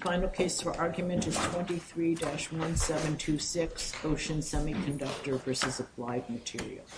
Final case for argument is 23-1726, Ocean Semiconductor v. Applied Materials. The case for argument is 23-1726, Ocean Semiconductor v. Applied Materials.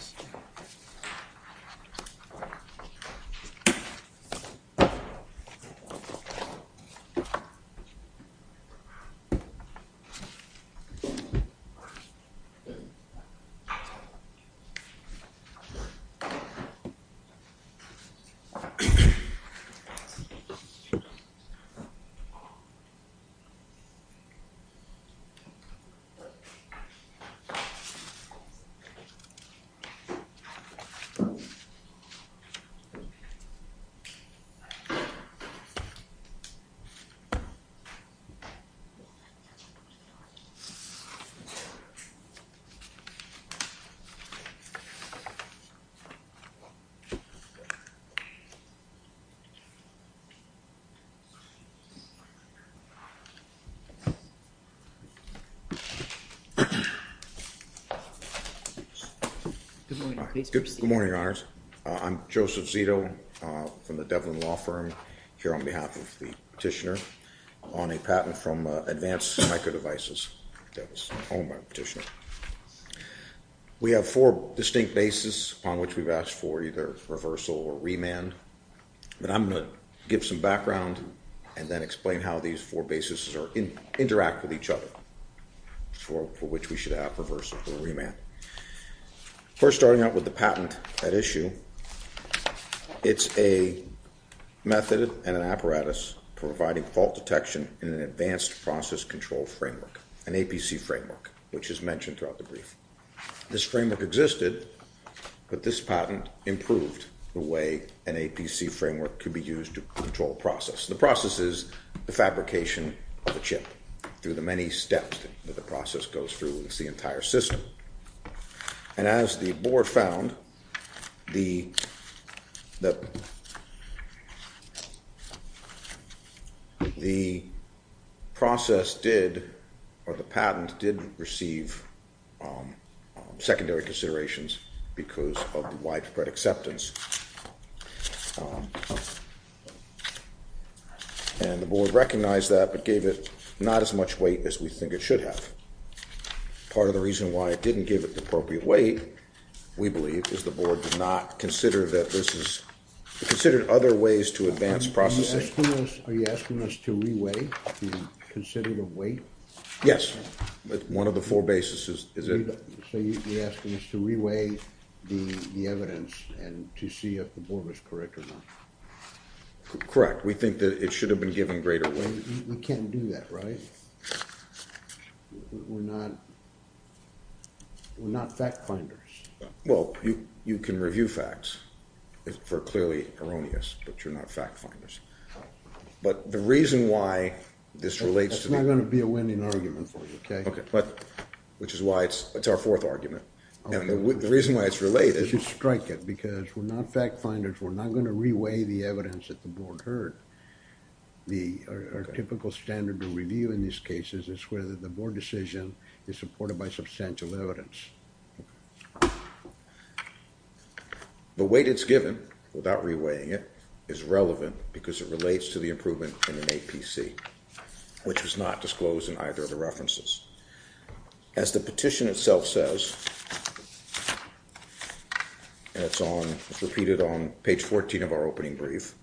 Good morning, your honors. I'm Joseph Zito from the Devlin Law Firm here on behalf of the petitioner on a patent from Advanced Microdevices. We have four distinct bases upon which we've asked for either reversal or remand, but I'm going to give some background and then explain how these four bases interact with each other for which we should have reversal or remand. First, starting out with the patent at issue, it's a method and an apparatus providing fault detection in an advanced process control framework, an APC framework, which is mentioned throughout the brief. This framework existed, but this patent improved the way an APC framework could be used to control a process. The process is the fabrication of a chip through the many steps that the process goes through. It's the entire system. And as the board found, the process did, or the patent did receive secondary considerations because of the widespread acceptance. And the board recognized that but gave it not as much weight as we think it should have. Part of the reason why it didn't give it the appropriate weight, we believe, is the board did not consider that this is considered other ways to advance processing. Are you asking us to re-weigh the considered weight? Yes. One of the four bases is it. So you're asking us to re-weigh the evidence and to see if the board was correct or not. Correct. We think that it should have been given greater weight. We can't do that, right? We're not fact finders. Well, you can review facts for clearly erroneous, but you're not fact finders. But the reason why this relates to... That's not going to be a winning argument for you, okay? Which is why it's our fourth argument. And the reason why it's related... We should strike it because we're not fact finders. We're not going to re-weigh the evidence that the board heard. Our typical standard to review in these cases is whether the board decision is supported by substantial evidence. The weight it's given, without re-weighing it, is relevant because it relates to the improvement in an APC, which was not disclosed in either of the references. As the petition itself says, and it's repeated on page 14 of our opening brief,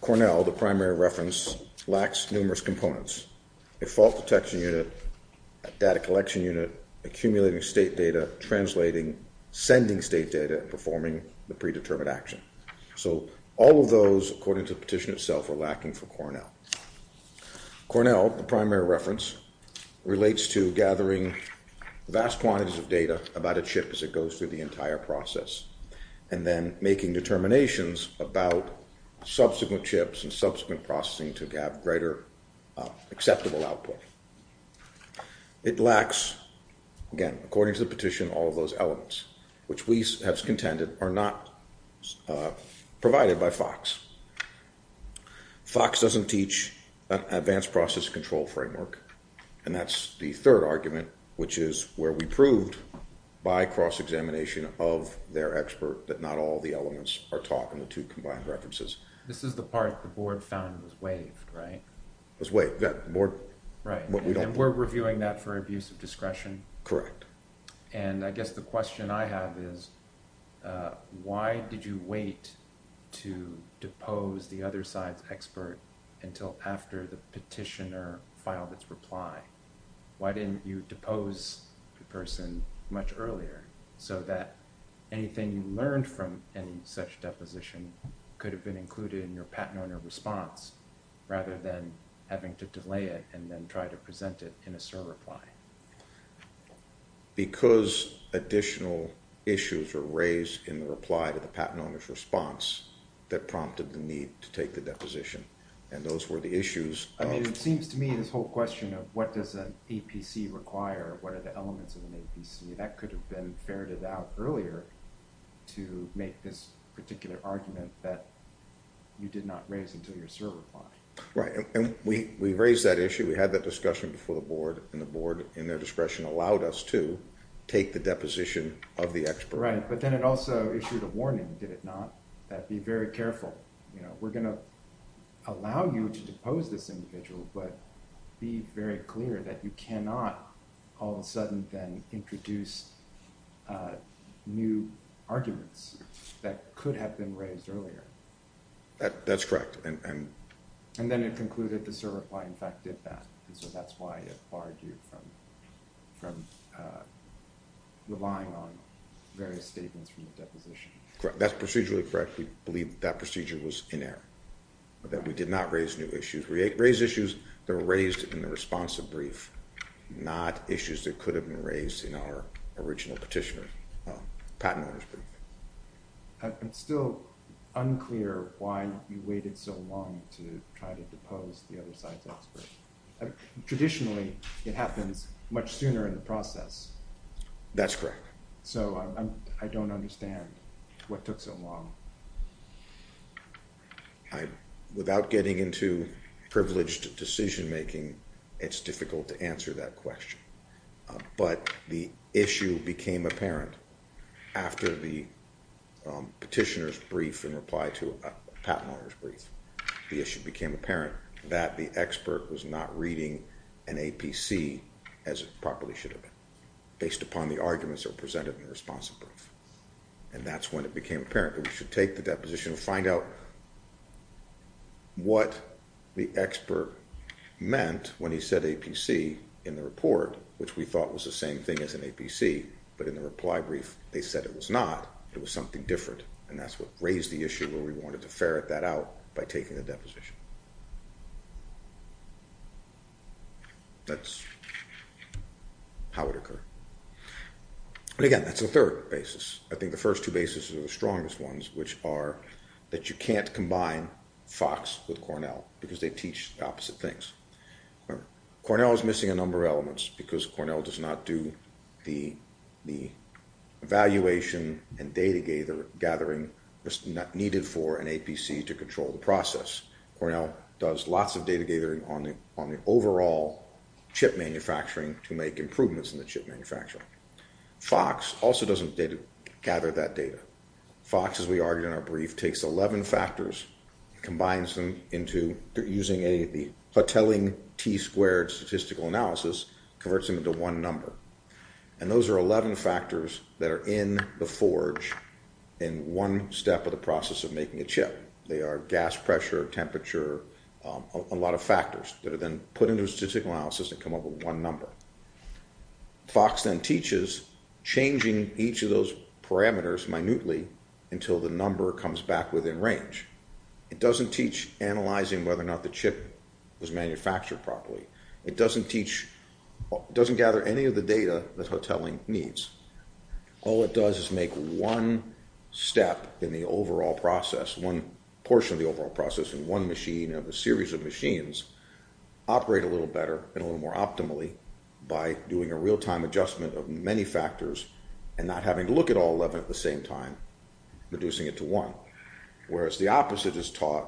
Cornell, the primary reference, lacks numerous components. A fault detection unit, a data collection unit, accumulating state data, translating, sending state data, performing the predetermined action. So all of those, according to the petition itself, are lacking for Cornell. Cornell, the primary reference, relates to gathering vast quantities of data about a chip as it goes through the entire process, and then making determinations about subsequent chips and subsequent processing to have greater acceptable output. It lacks, again, according to the petition, all of those elements, which we have contended are not provided by FOX. FOX doesn't teach an advanced process control framework, and that's the third argument, which is where we proved by cross-examination of their expert that not all of the elements are taught in the two combined references. This is the part the board found was waived, right? Right, and we're reviewing that for abuse of discretion? Correct. And I guess the question I have is, why did you wait to depose the other side's expert until after the petitioner filed its reply? Why didn't you depose the person much earlier so that anything you learned from any such deposition could have been included in your patent owner's response rather than having to delay it and then try to present it in a CER reply? Because additional issues were raised in the reply to the patent owner's response that prompted the need to take the deposition, and those were the issues. I mean, it seems to me this whole question of what does an APC require, what are the elements of an APC, that could have been ferreted out earlier to make this particular argument that you did not raise until your CER reply. Right, and we raised that issue, we had that discussion before the board, and the board, in their discretion, allowed us to take the deposition of the expert. Right, but then it also issued a warning, did it not, that be very careful. We're going to allow you to depose this individual, but be very clear that you cannot all of a sudden then introduce new arguments that could have been raised earlier. That's correct. And then it concluded the CER reply in fact did that, and so that's why it barred you from relying on various statements from the deposition. That's procedurally correct, we believe that procedure was in error, that we did not raise new issues. We raised issues that were raised in the responsive brief, not issues that could have been raised in our original petitioner, patent owner's brief. It's still unclear why you waited so long to try to depose the other side's expert. Traditionally, it happens much sooner in the process. That's correct. So I don't understand what took so long. Without getting into privileged decision making, it's difficult to answer that question. But the issue became apparent after the petitioner's brief in reply to a patent owner's brief. The issue became apparent that the expert was not reading an APC as it properly should have been, based upon the arguments that were presented in the responsive brief. And that's when it became apparent that we should take the deposition and find out what the expert meant when he said APC in the report, which we thought was the same thing as an APC, but in the reply brief they said it was not, it was something different. And that's what raised the issue where we wanted to ferret that out by taking the deposition. That's how it occurred. And again, that's the third basis. I think the first two bases are the strongest ones, which are that you can't combine Fox with Cornell, because they teach the opposite things. Cornell is missing a number of elements, because Cornell does not do the evaluation and data gathering needed for an APC to control the process. Cornell does lots of data gathering on the overall chip manufacturing to make improvements in the chip manufacturing. Fox also doesn't gather that data. Fox, as we argued in our brief, takes 11 factors, combines them into, using a telling T-squared statistical analysis, converts them into one number. And those are 11 factors that are in the forge in one step of the process of making a chip. They are gas pressure, temperature, a lot of factors that are then put into a statistical analysis that come up with one number. Fox then teaches changing each of those parameters minutely until the number comes back within range. It doesn't teach analyzing whether or not the chip was manufactured properly. It doesn't teach, it doesn't gather any of the data that hotelling needs. All it does is make one step in the overall process, one portion of the overall process in one machine of a series of machines operate a little better and a little more optimally by doing a real-time adjustment of many factors and not having to look at all 11 at the same time, reducing it to one. Whereas the opposite is taught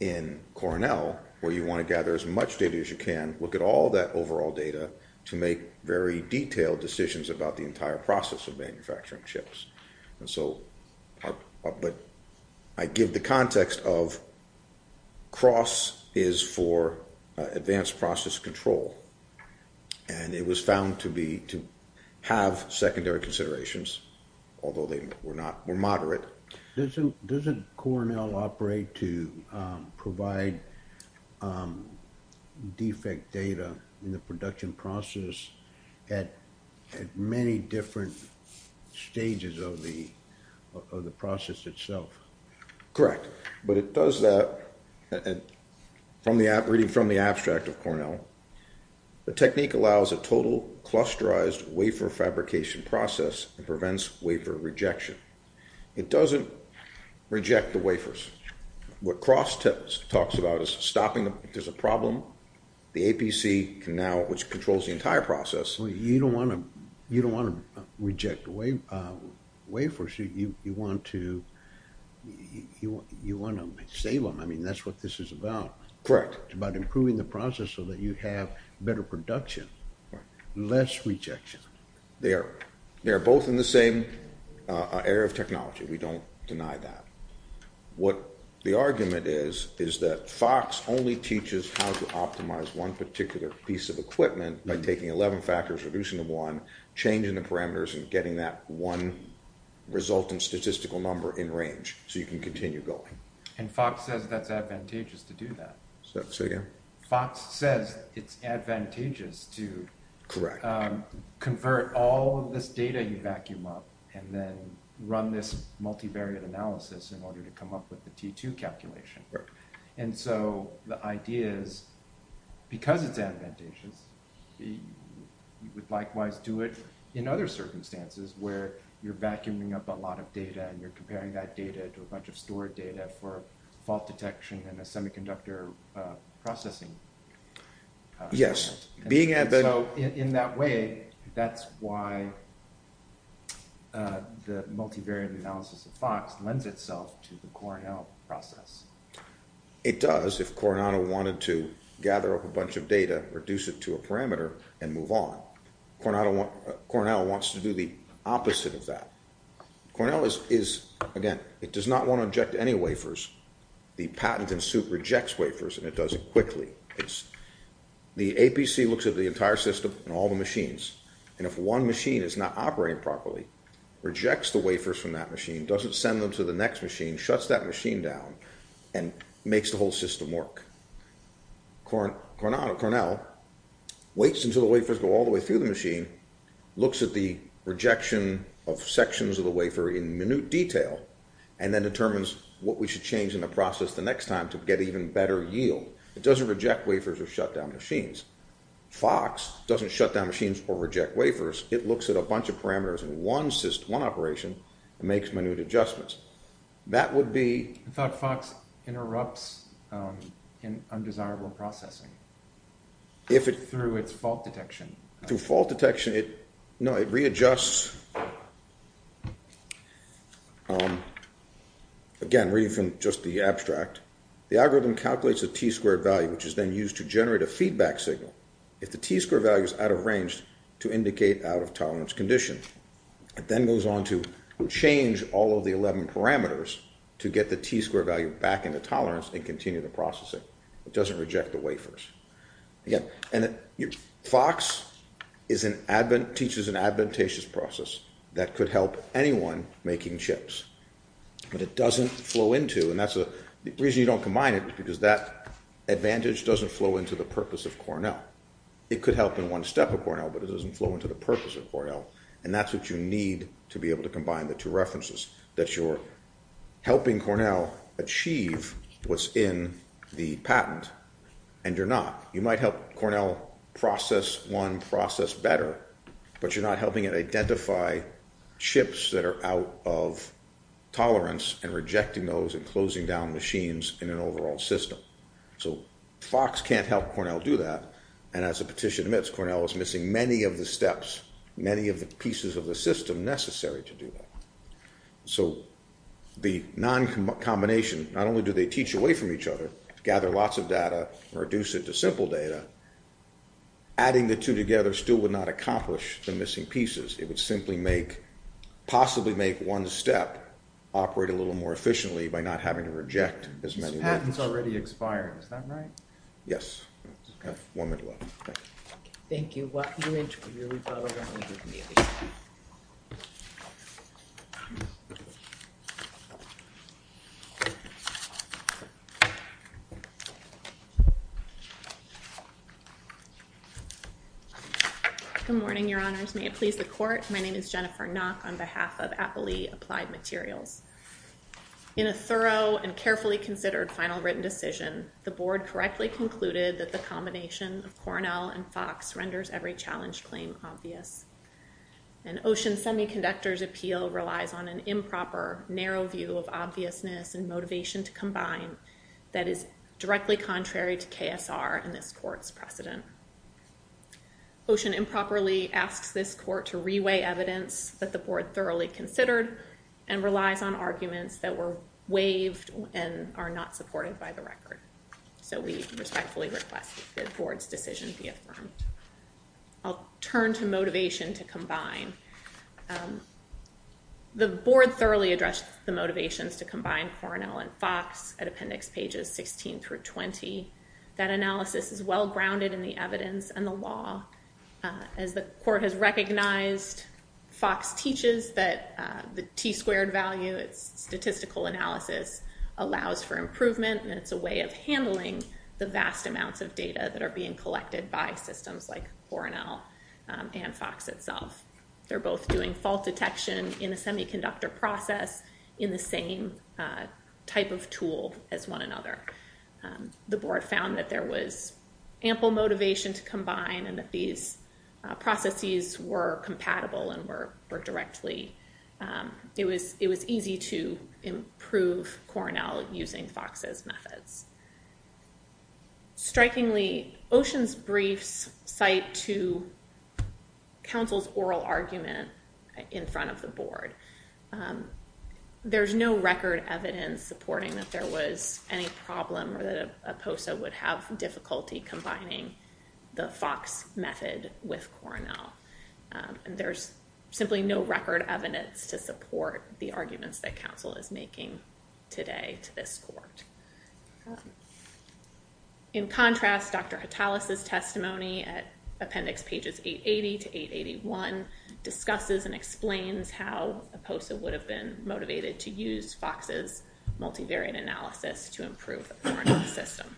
in Cornell, where you want to gather as much data as you can, look at all that overall data to make very detailed decisions about the entire process of manufacturing chips. But I give the context of cross is for advanced process control. And it was found to have secondary considerations, although they were moderate. Doesn't Cornell operate to provide defect data in the production process at many different stages of the process itself? Correct. But it does that, reading from the abstract of Cornell, the technique allows a total clusterized wafer fabrication process and prevents wafer rejection. It doesn't reject the wafers. What cross talks about is stopping, if there's a problem, the APC can now, which controls the entire process... So you don't want to reject wafers. You want to save them. I mean, that's what this is about. Correct. It's about improving the process so that you have better production. Less rejection. They are both in the same area of technology. We don't deny that. What the argument is, is that cross only teaches how to optimize one particular piece of equipment by taking 11 factors, reducing them to one, changing the parameters, and getting that one resultant statistical number in range so you can continue going. And Fox says that's advantageous to do that. Say again? Fox says it's advantageous to convert all of this data you vacuum up and then run this multivariate analysis in order to come up with the T2 calculation. And so the idea is, because it's advantageous, you would likewise do it in other circumstances where you're vacuuming up a lot of data and you're comparing that data to a bunch of stored data for fault detection and a semiconductor processing. Yes. So in that way, that's why the multivariate analysis of Fox lends itself to the Cornell process. It does if Cornell wanted to gather up a bunch of data, reduce it to a parameter, and move on. Cornell wants to do the opposite of that. Cornell is, again, it does not want to inject any wafers. The patent in suit rejects wafers, and it does it quickly. The APC looks at the entire system and all the machines, and if one machine is not operating properly, rejects the wafers from that machine, doesn't send them to the next machine, shuts that machine down, and makes the whole system work. Cornell waits until the wafers go all the way through the machine, looks at the rejection of sections of the wafer in minute detail, and then determines what we should change in the process the next time to get even better yield. It doesn't reject wafers or shut down machines. Fox doesn't shut down machines or reject wafers. It looks at a bunch of parameters in one operation and makes minute adjustments. I thought Fox interrupts undesirable processing through its fault detection. No, it readjusts. Again, reading from just the abstract, the algorithm calculates the T-squared value, which is then used to generate a feedback signal. If the T-squared value is out of range to indicate out-of-tolerance condition, it then goes on to change all of the 11 parameters to get the T-squared value back into tolerance and continue the processing. It doesn't reject the wafers. Fox teaches an advantageous process that could help anyone making chips, but it doesn't flow into, and that's the reason you don't combine it, because that advantage doesn't flow into the purpose of Cornell. It could help in one step at Cornell, but it doesn't flow into the purpose of Cornell. And that's what you need to be able to combine the two references, that you're helping Cornell achieve what's in the patent, and you're not. You might help Cornell process one process better, but you're not helping it identify chips that are out of tolerance and rejecting those and closing down machines in an overall system. So Fox can't help Cornell do that, and as a petition admits, Cornell is missing many of the steps, many of the pieces of the system necessary to do that. So the non-combination, not only do they teach away from each other, gather lots of data, reduce it to simple data, adding the two together still would not accomplish the missing pieces. It would simply make, possibly make one step operate a little more efficiently by not having to reject as many. This patent's already expired, is that right? Yes. One minute left. Thank you. Good morning, your honors. May it please the court, my name is Jennifer Nock on behalf of the College of Applied Materials. In a thorough and carefully considered final written decision, the board correctly concluded that the combination of Cornell and Fox renders every challenge claim obvious. And Ocean Semiconductor's appeal relies on an improper, narrow view of obviousness and motivation to combine that is directly contrary to KSR in this court's precedent. Ocean improperly asks this court to reweigh evidence that the board thoroughly considered and relies on arguments that were waived and are not supported by the record. So we respectfully request that the board's decision be affirmed. I'll turn to motivation to combine. The board thoroughly addressed the motivations to combine Cornell and Fox at appendix pages 16 through 20. That analysis is well grounded in the evidence and the law. As the court has recognized, Fox teaches that the T squared value, its statistical analysis, allows for improvement and it's a way of handling the vast amounts of data that are being collected by systems like Cornell and Fox itself. They're both doing fault detection in a semiconductor process in the same type of tool as one another. The board found that there was ample motivation to combine and that these processes were compatible and were directly, it was easy to improve Cornell using Fox's methods. Strikingly, Ocean's briefs cite to counsel's oral argument in front of the board. There's no record evidence supporting that there was any problem or that a POSA would have difficulty combining the Fox method with Cornell. There's simply no record evidence to support the arguments that counsel is making today to this court. In contrast, Dr. Hatalis' testimony at appendix pages 880 to 881 discusses and explains how a POSA would have been motivated to use Fox's multivariate analysis to improve the Cornell system.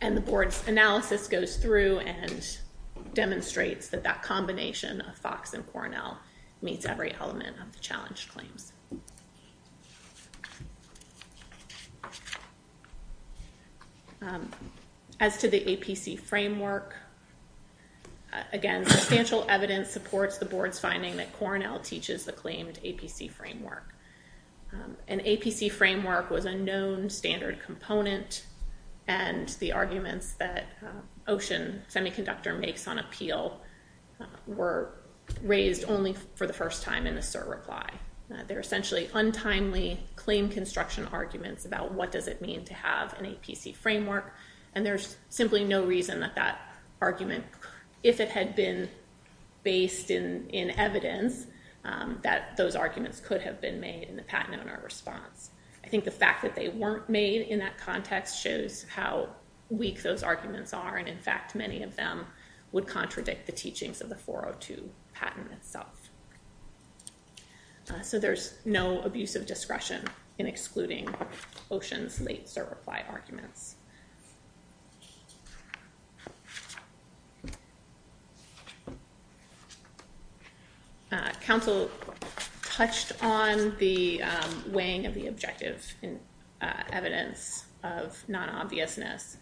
And the board's analysis goes through and demonstrates that that combination of Fox and Cornell meets every element of the challenge claims. As to the APC framework, again, substantial evidence supports the board's finding that Cornell teaches the claimed APC framework. An APC framework was a known standard component and the arguments that Ocean Semiconductor makes on appeal were raised only for the first time in a cert reply. They're essentially untimely claim construction arguments about what does it mean to have an APC framework. And there's simply no reason that that argument, if it had been based in evidence, that those arguments could have been made in the patent owner response. I think the fact that they weren't made in that context shows how weak those arguments are. And in fact, many of them would contradict the teachings of the 402 patent itself. So there's no abusive discretion in excluding Ocean's late cert reply arguments. Council touched on the weighing of the objective evidence of non-obviousness.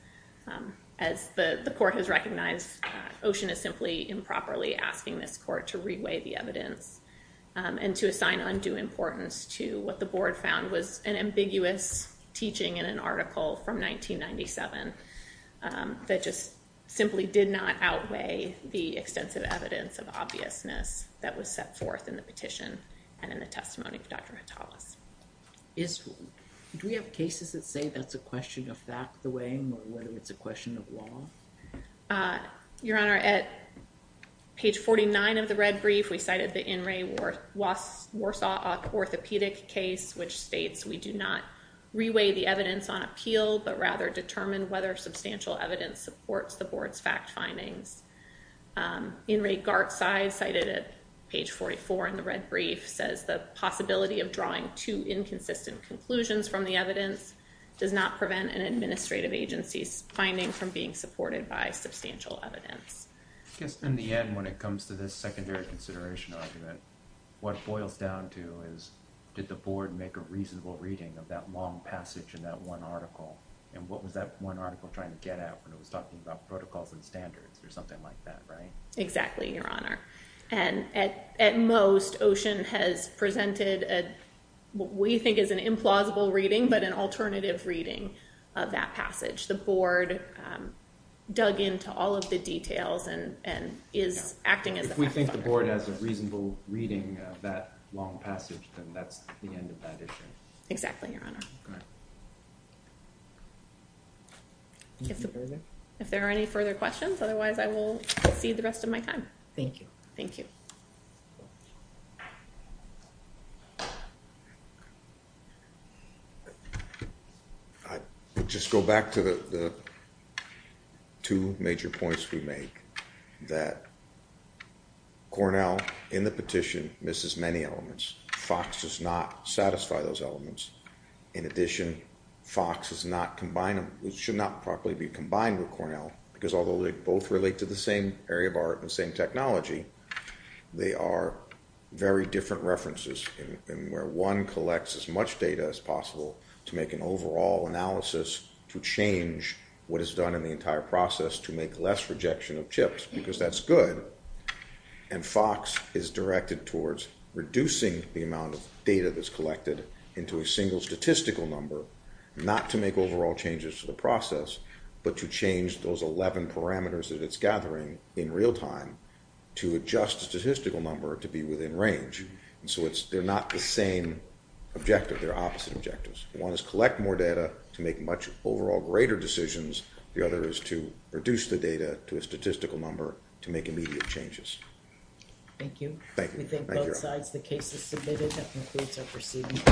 As the court has recognized, Ocean is simply improperly asking this court to re-weigh the evidence and to assign undue importance to what the board found was an ambiguous teaching in an article from 1997 that just simply did not outweigh the extensive evidence of obviousness that was set forth in the petition and in the testimony of Dr. Hattalas. Do we have cases that say that's a question of fact, the weighing, or whether it's a question of law? Your Honor, at page 49 of the red brief, we cited the In Re Warsaw Orthopedic case, which states we do not re-weigh the evidence on appeal, but rather determine whether substantial evidence supports the board's fact findings. In Re Gartside, cited at page 44 in the red brief, says the possibility of drawing two inconsistent conclusions from the evidence does not prevent an administrative agency's finding from being supported by substantial evidence. I guess in the end, when it comes to this secondary consideration argument, what it boils down to is did the board make a reasonable reading of that long passage in that one article, and what was that one article trying to get at when it was talking about protocols and standards, or something like that, right? Exactly, Your Honor. And at most, Ocean has presented what we think is an implausible reading, but an alternative reading of that passage. The board dug into all of the details and is acting as the fact finder. If we think the board has a reasonable reading of that long passage, then that's the end of that issue. Exactly, Your Honor. If there are any further questions, otherwise I will cede the rest of my time. Thank you. Thank you. I just go back to the two major points we make, that Cornell, in the petition, misses many elements. Fox does not satisfy those elements. In addition, Fox should not properly be rejected. They are very different references in where one collects as much data as possible to make an overall analysis to change what is done in the entire process to make less rejection of chips, because that's good. And Fox is directed towards reducing the amount of data that's collected into a single statistical number, not to make overall changes to the process, but to change those 11 parameters that it's gathering in real time to adjust the statistical number to be within range. So they're not the same objective. They're opposite objectives. One is collect more data to make much overall greater decisions. The other is to reduce the data to a statistical number to make immediate changes. Thank you. We thank both sides. The case is submitted. That concludes our proceedings.